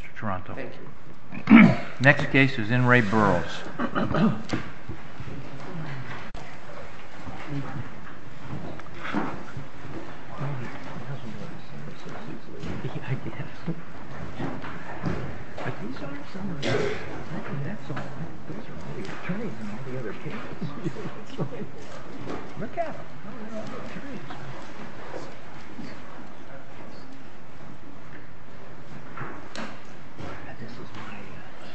Mr. Toronto. Thank you. Next case is N. Ray Burrows. This is my, uh,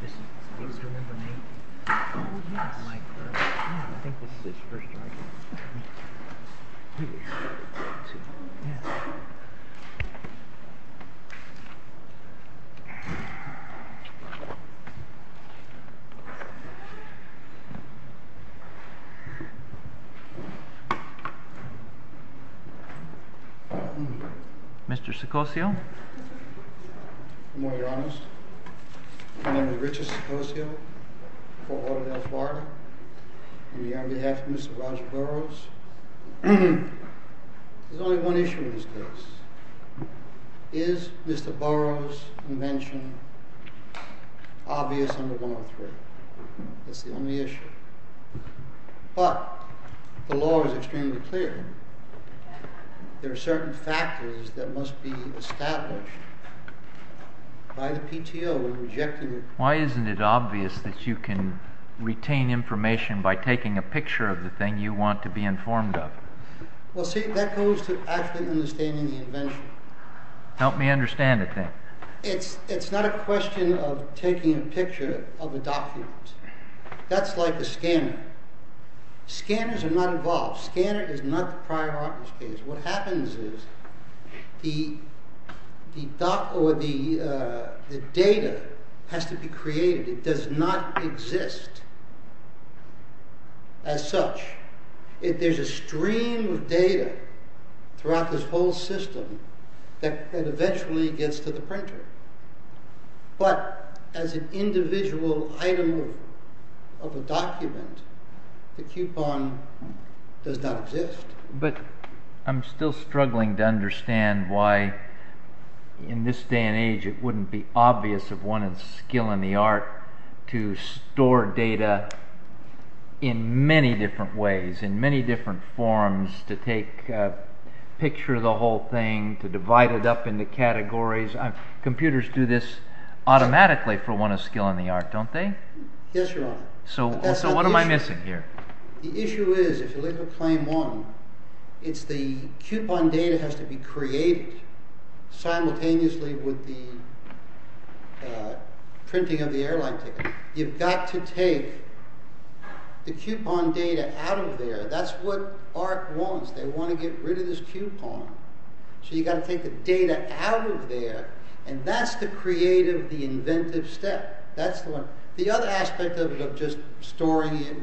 this is, do you remember me? Oh, yes. I think this is his first arrest. Mr. Sicosio. Good morning, Your Honor. My name is Richard Sicosio. On behalf of Mr. Roger Burrows, there's only one issue in this case. Is Mr. Burrows' invention obvious under 103? That's the only issue. But the law is extremely clear. There are certain factors that must be established by the PTO in rejecting it. Why isn't it obvious that you can retain information by taking a picture of the thing you want to be informed of? Well, see, that goes to actually understanding the invention. Help me understand the thing. It's not a question of taking a picture of a document. That's like a scanner. Scanners are not involved. Scanner is not the prior arsonist case. What happens is the data has to be created. It does not exist as such. There's a stream of data throughout this whole system that eventually gets to the printer. But as an individual item of a document, the coupon does not exist. But I'm still struggling to understand why in this day and age it wouldn't be obvious of one of the skill and the art to store data in many different ways, in many different forms, to take a picture of the whole thing, to divide it up into categories. Computers do this automatically for one of the skill and the art, don't they? Yes, Your Honor. So what am I missing here? The issue is, if you look at Claim 1, it's the coupon data has to be created simultaneously with the printing of the airline ticket. You've got to take the coupon data out of there. That's what ARC wants. They want to get rid of this coupon. So you've got to take the data out of there, and that's the creative, the inventive step. The other aspect of just storing it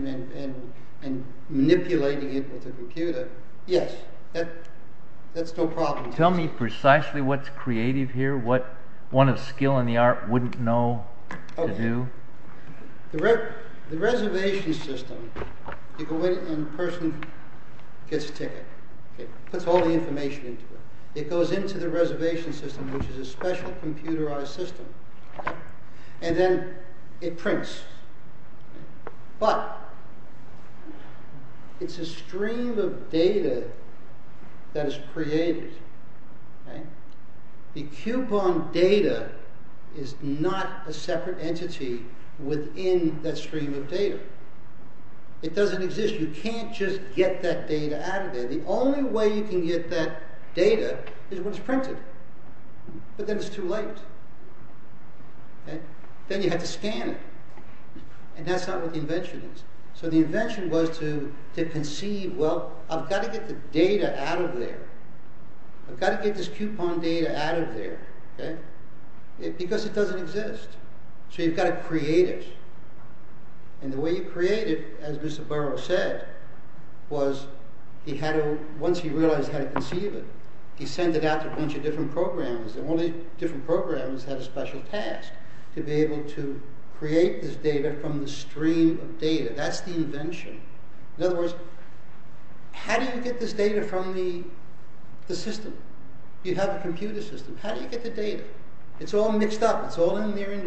and manipulating it with a computer, yes, that's no problem. Tell me precisely what's creative here, what one of skill and the art wouldn't know to do. The reservation system, you go in and the person gets a ticket. It puts all the information into it. It goes into the reservation system, which is a special computerized system. And then it prints. But it's a stream of data that is created. The coupon data is not a separate entity within that stream of data. It doesn't exist. You can't just get that data out of there. is when it's printed. But then it's too late. Then you have to scan it. And that's not what the invention is. So the invention was to conceive, well, I've got to get the data out of there. I've got to get this coupon data out of there. Because it doesn't exist. So you've got to create it. And the way you create it, as Mr. Burrow said, was once he realized how to conceive it, he sent it out to a bunch of different programs. And one of the different programs had a special task, to be able to create this data from the stream of data. That's the invention. In other words, how do you get this data from the system? You have a computer system. How do you get the data? It's all mixed up. It's all in there.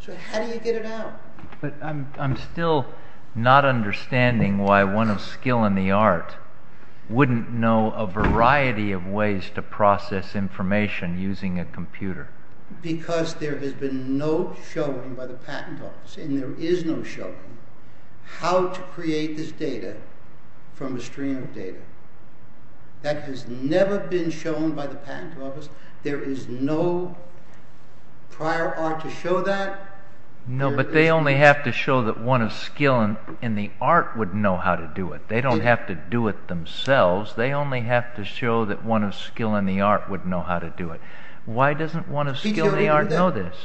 So how do you get it out? But I'm still not understanding why one of skill and the art wouldn't know a variety of ways to process information using a computer. Because there has been no showing by the patent office, and there is no showing, how to create this data from a stream of data. That has never been shown by the patent office. There is no prior art to show that. No, but they only have to show that one of skill and the art would know how to do it. They don't have to do it themselves. They only have to show that one of skill and the art would know how to do it. Why doesn't one of skill and the art know this?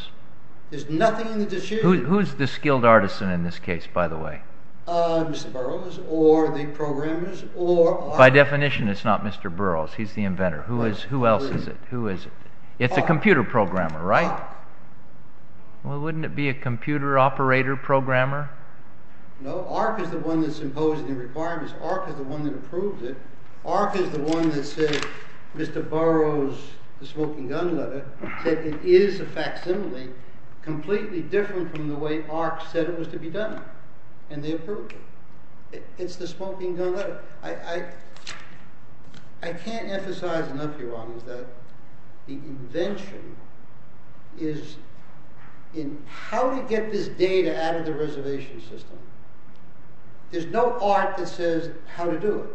There is nothing in the decision. Who is the skilled artisan in this case, by the way? Mr. Burroughs, or the programmers, or... By definition, it's not Mr. Burroughs. He is the inventor. Who else is it? It's a computer programmer, right? Well, wouldn't it be a computer operator programmer? No, AHRQ is the one that's imposing the requirements. AHRQ is the one that approves it. AHRQ is the one that says, Mr. Burroughs, the smoking gun letter, said it is a facsimile, completely different from the way AHRQ said it was to be done. And they approved it. It's the smoking gun letter. I can't emphasize enough, Your Honor, that the invention is in how to get this data out of the reservation system. There's no art that says how to do it.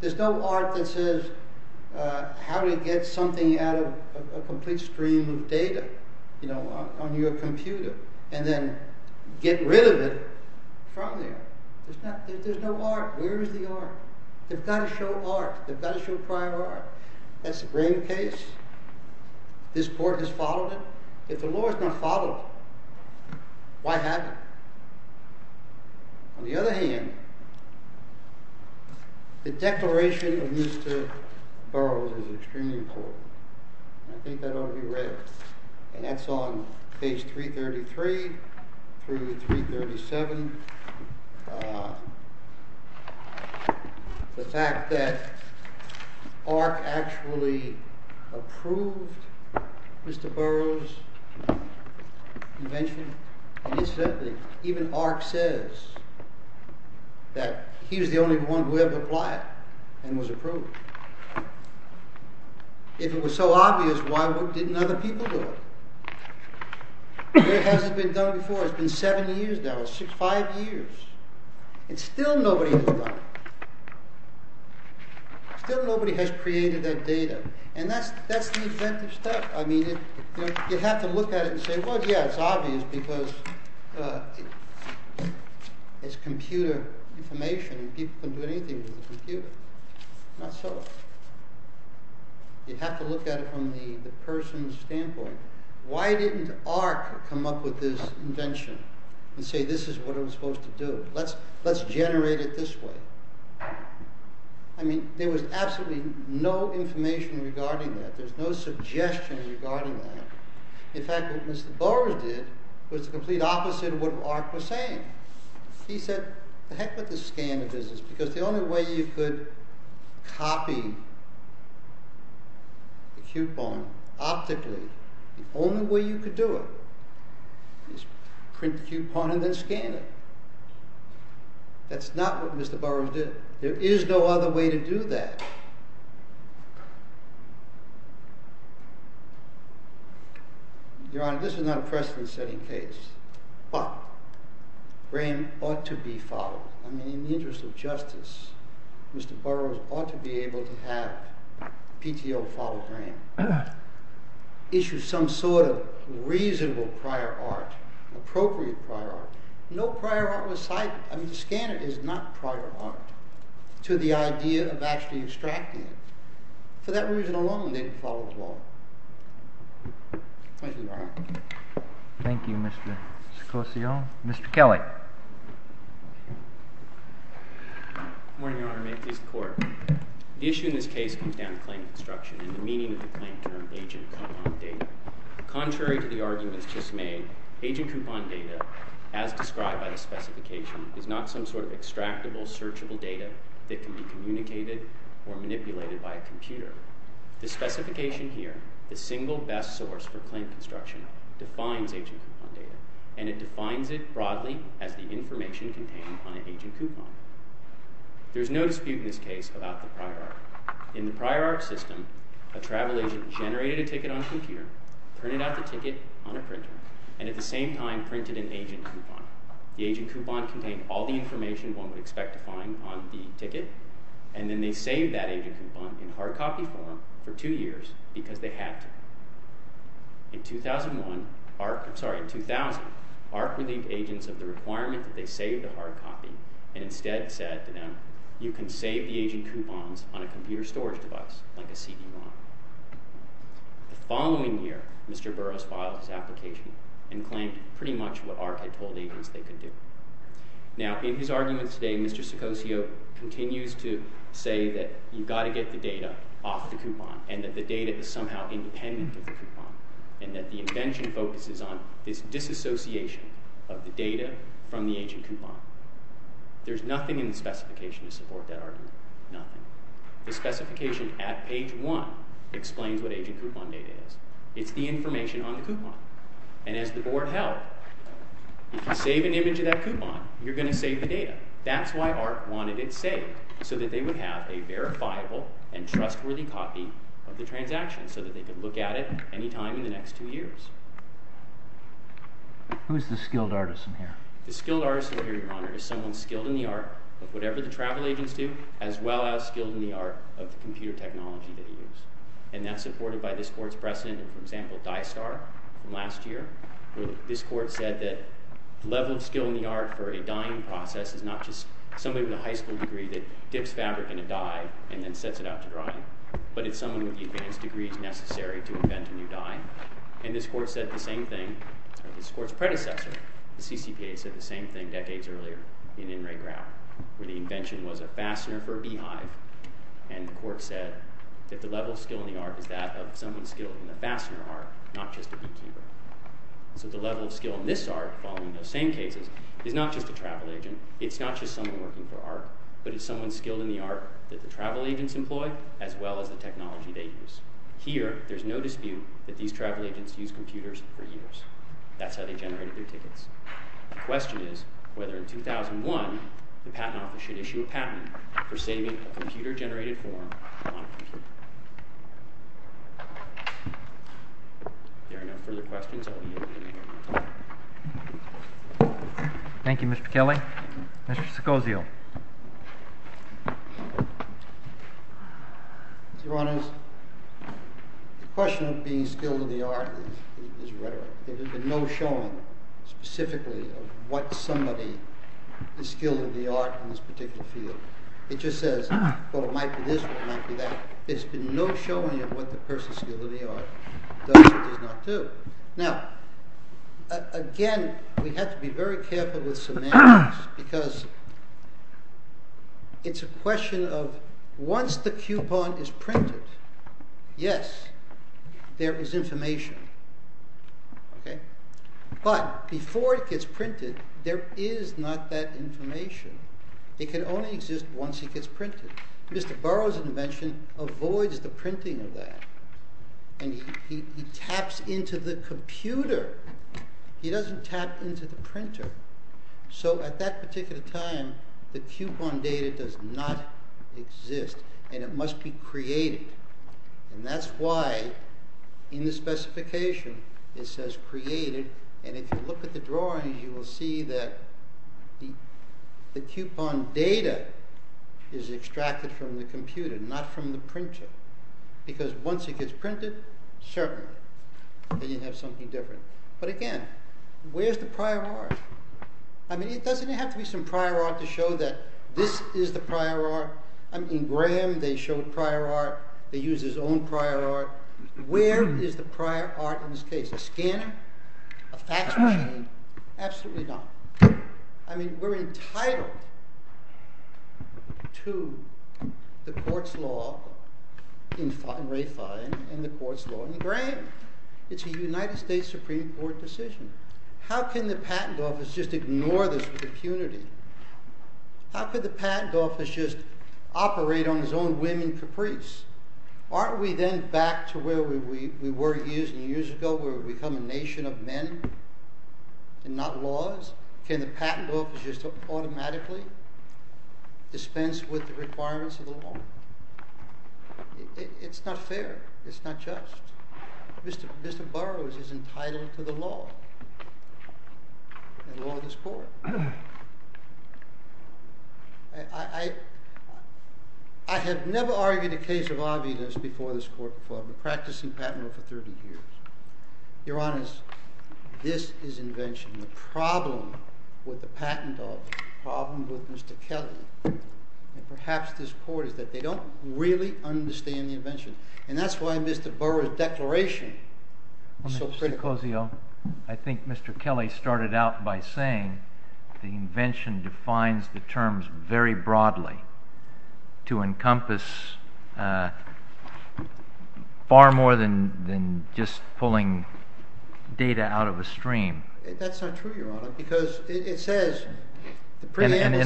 There's no art that says how to get something out of a complete stream of data, you know, on your computer, and then get rid of it from there. There's no art. Where is the art? They've got to show art. They've got to show prior art. That's the brain case. This Court has followed it. If the law has not followed it, why have it? On the other hand, the declaration of Mr. Burroughs is extremely important. I think that ought to be read. And that's on page 333 through 337. The fact that AHRQ actually approved Mr. Burroughs' invention, and incidentally, even AHRQ says that he was the only one who ever applied and was approved. If it was so obvious, why didn't other people do it? It hasn't been done before. It's been seven years now, five years. And still nobody has done it. Still nobody has created that data. And that's the inventive stuff. I mean, you have to look at it and say, well, yeah, it's obvious because it's computer information and people can do anything with a computer. Not so. You have to look at it from the person's standpoint. Why didn't AHRQ come up with this invention and say this is what I'm supposed to do? Let's generate it this way. I mean, there was absolutely no information regarding that. There's no suggestion regarding that. In fact, what Mr. Burroughs did was the complete opposite of what AHRQ was saying. He said, the heck with the scanner business because the only way you could copy a coupon optically the only way you could do it is print the coupon and then scan it. That's not what Mr. Burroughs did. There is no other way to do that. Your Honor, this is not a precedent-setting case. But Graham ought to be followed. I mean, in the interest of justice, Mr. Burroughs ought to be able to have PTO follow Graham. Issue some sort of reasonable prior art, appropriate prior art. No prior art was cited. I mean, the scanner is not prior art to the idea of actually extracting it. For that reason alone, they can follow the law. Thank you, Your Honor. Thank you, Mr. Sicosio. Mr. Kelly. Good morning, Your Honor. May it please the Court. The issue in this case comes down to claim of obstruction and the meaning of the claim term agent coupon data. Contrary to the arguments just made, agent coupon data, as described by the specification, is not some sort of extractable, searchable data that can be communicated or manipulated by a computer. The specification here, the single best source for claim construction, defines agent coupon data, and it defines it broadly as the information contained on an agent coupon. There's no dispute in this case about the prior art. In the prior art system, a travel agent generated a ticket on a computer, printed out the ticket on a printer, and at the same time printed an agent coupon. The agent coupon contained all the information one would expect to find on the ticket, and then they saved that agent coupon in hard copy form for two years because they had to. In 2001, ARC, I'm sorry, in 2000, ARC relieved agents of the requirement that they save the hard copy and instead said to them, you can save the agent coupons on a computer storage device like a CD-ROM. The following year, Mr. Burroughs filed his application and claimed pretty much what ARC had told agents they could do. Now, in his arguments today, Mr. Seccosio continues to say that you've got to get the data off the coupon and that the data is somehow independent of the coupon and that the invention focuses on this disassociation of the data from the agent coupon. There's nothing in the specification to support that argument. Nothing. The specification at page one explains what agent coupon data is. It's the information on the coupon. And as the board held, if you save an image of that coupon, you're going to save the data. That's why ARC wanted it saved, so that they would have a verifiable and trustworthy copy of the transaction so that they could look at it any time in the next two years. Who's the skilled artist in here? The skilled artist in here, Your Honor, is someone skilled in the art of whatever the travel agents do as well as skilled in the art of the computer technology that they use. And that's supported by this court's precedent of, for example, Dye Star from last year, where this court said that the level of skill in the art for a dyeing process is not just somebody with a high school degree that dips fabric in a dye and then sets it out to dry, but it's someone with the advanced degrees necessary to invent a new dye. And this court said the same thing with this court's predecessor. The CCPA said the same thing decades earlier in In Re Grau, where the invention was a fastener for a beehive, and the court said that the level of skill in the art is that of someone skilled in the fastener art, not just a beekeeper. So the level of skill in this ARC, following those same cases, is not just a travel agent, it's not just someone working for ARC, but it's someone skilled in the art that the travel agents employ as well as the technology they use. Here, there's no dispute that these travel agents used computers for years. That's how they generated their tickets. The question is whether, in 2001, the Patent Office should issue a patent for saving a computer-generated form on a computer. If there are no further questions, I will be opening the hearing. Thank you, Mr. Kelly. Mr. Secozio. Your Honors, the question of being skilled in the art is rhetoric. There's been no showing, specifically, of what somebody is skilled in the art in this particular field. It just says, well, it might be this or it might be that. There's been no showing of what the person skilled in the art does or does not do. Now, again, we have to be very careful with semantics, because it's a question of, once the coupon is printed, yes, there is information. But before it gets printed, there is not that information. It can only exist once it gets printed. Mr. Burroughs' invention avoids the printing of that, and he taps into the computer. He doesn't tap into the printer. So at that particular time, the coupon data does not exist, and it must be created. And that's why, in the specification, it says created, and if you look at the drawings, you will see that the coupon data is extracted from the computer, not from the printer. Because once it gets printed, certainly, then you have something different. But again, where's the prior art? I mean, doesn't it have to be some prior art to show that this is the prior art? In Graham, they showed prior art. They used his own prior art. Where is the prior art in this case? A scanner? A fax machine? Absolutely not. I mean, we're entitled to the court's law in Ray Fine and the court's law in Graham. It's a United States Supreme Court decision. How can the patent office just ignore this with impunity? How could the patent office just operate on its own whim and caprice? Aren't we then back to where we were years and years ago, where we become a nation of men and not laws? Can the patent office just automatically dispense with the requirements of the law? It's not fair. It's not just. Mr. Burroughs is entitled to the law and the law of this court. I have never argued a case of obvious before this court before. I've been practicing patent law for 30 years. Your Honor, this is invention. The problem with the patent office, the problem with Mr. Kelly, and perhaps this court, is that they don't really understand the invention. And that's why Mr. Burroughs' declaration is so critical. Mr. Cozio, I think Mr. Kelly started out by saying the invention defines the terms very broadly to encompass far more than just pulling data out of a stream. That's not true, Your Honor, because it says the preamble said that it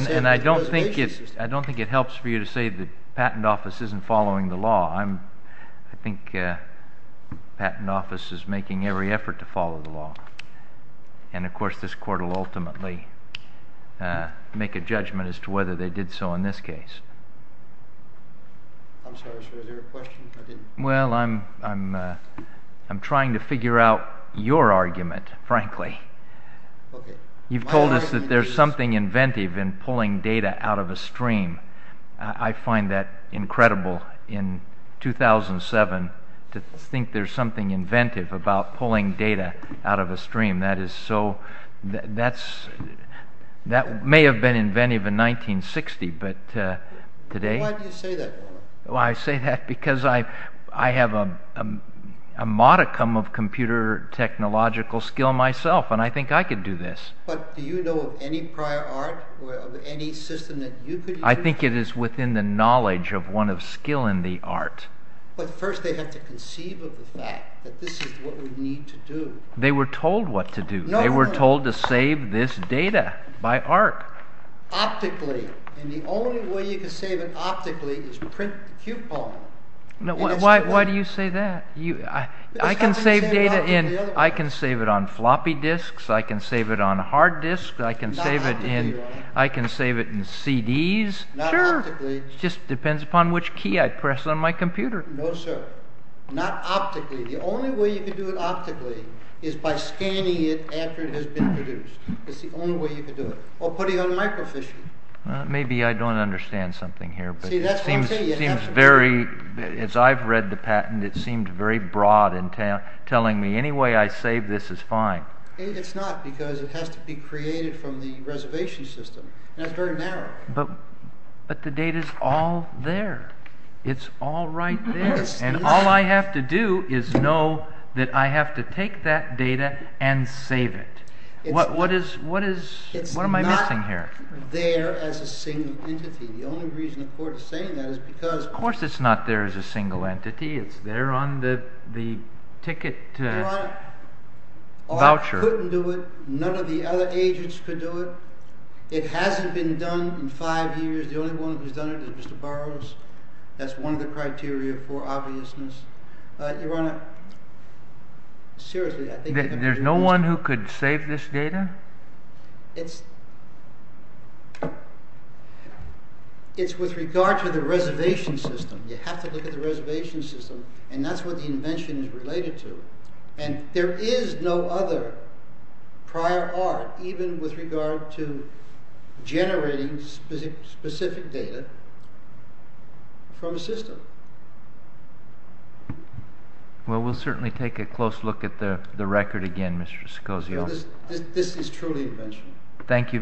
was a basis. I don't think it helps for you to say the patent office isn't following the law. I think the patent office is making every effort to follow the law. And, of course, this court will ultimately make a judgment as to whether they did so in this case. I'm sorry, sir. Is there a question? Well, I'm trying to figure out your argument, frankly. You've told us that there's something inventive in pulling data out of a stream. I find that incredible in 2007 to think there's something inventive about pulling data out of a stream. That may have been inventive in 1960, but today... Why do you say that, Your Honor? Well, I say that because I have a modicum of computer technological skill myself, and I think I could do this. But do you know of any prior art or of any system that you could use? I think it is within the knowledge of one of skill in the art. But first they have to conceive of the fact that this is what we need to do. They were told what to do. They were told to save this data by art. Optically. And the only way you can save it optically is print the coupon. Why do you say that? I can save data in... I can save it on floppy disks. I can save it on hard disks. I can save it in CDs. Sure. It just depends upon which key I press on my computer. No, sir. Not optically. The only way you can do it optically is by scanning it after it has been produced. It's the only way you can do it. Or putting it on a microfiche. Maybe I don't understand something here, but it seems very... As I've read the patent, it seemed very broad in telling me any way I save this is fine. It's not, because it has to be created from the reservation system. That's very narrow. But the data is all there. It's all right there. And all I have to do is know that I have to take that data and save it. What am I missing here? It's not there as a single entity. The only reason the court is saying that is because... Of course it's not there as a single entity. It's there on the ticket voucher. Art couldn't do it. None of the other agents could do it. It hasn't been done in five years. The only one who's done it is Mr. Burroughs. That's one of the criteria for obviousness. Your Honor, seriously, I think... There's no one who could save this data? It's... It's with regard to the reservation system. You have to look at the reservation system. And that's what the invention is related to. And there is no other prior art, even with regard to generating specific data, from a system. Well, we'll certainly take a close look at the record again, Mr. Seccosio. This is truly invention. Thank you very much.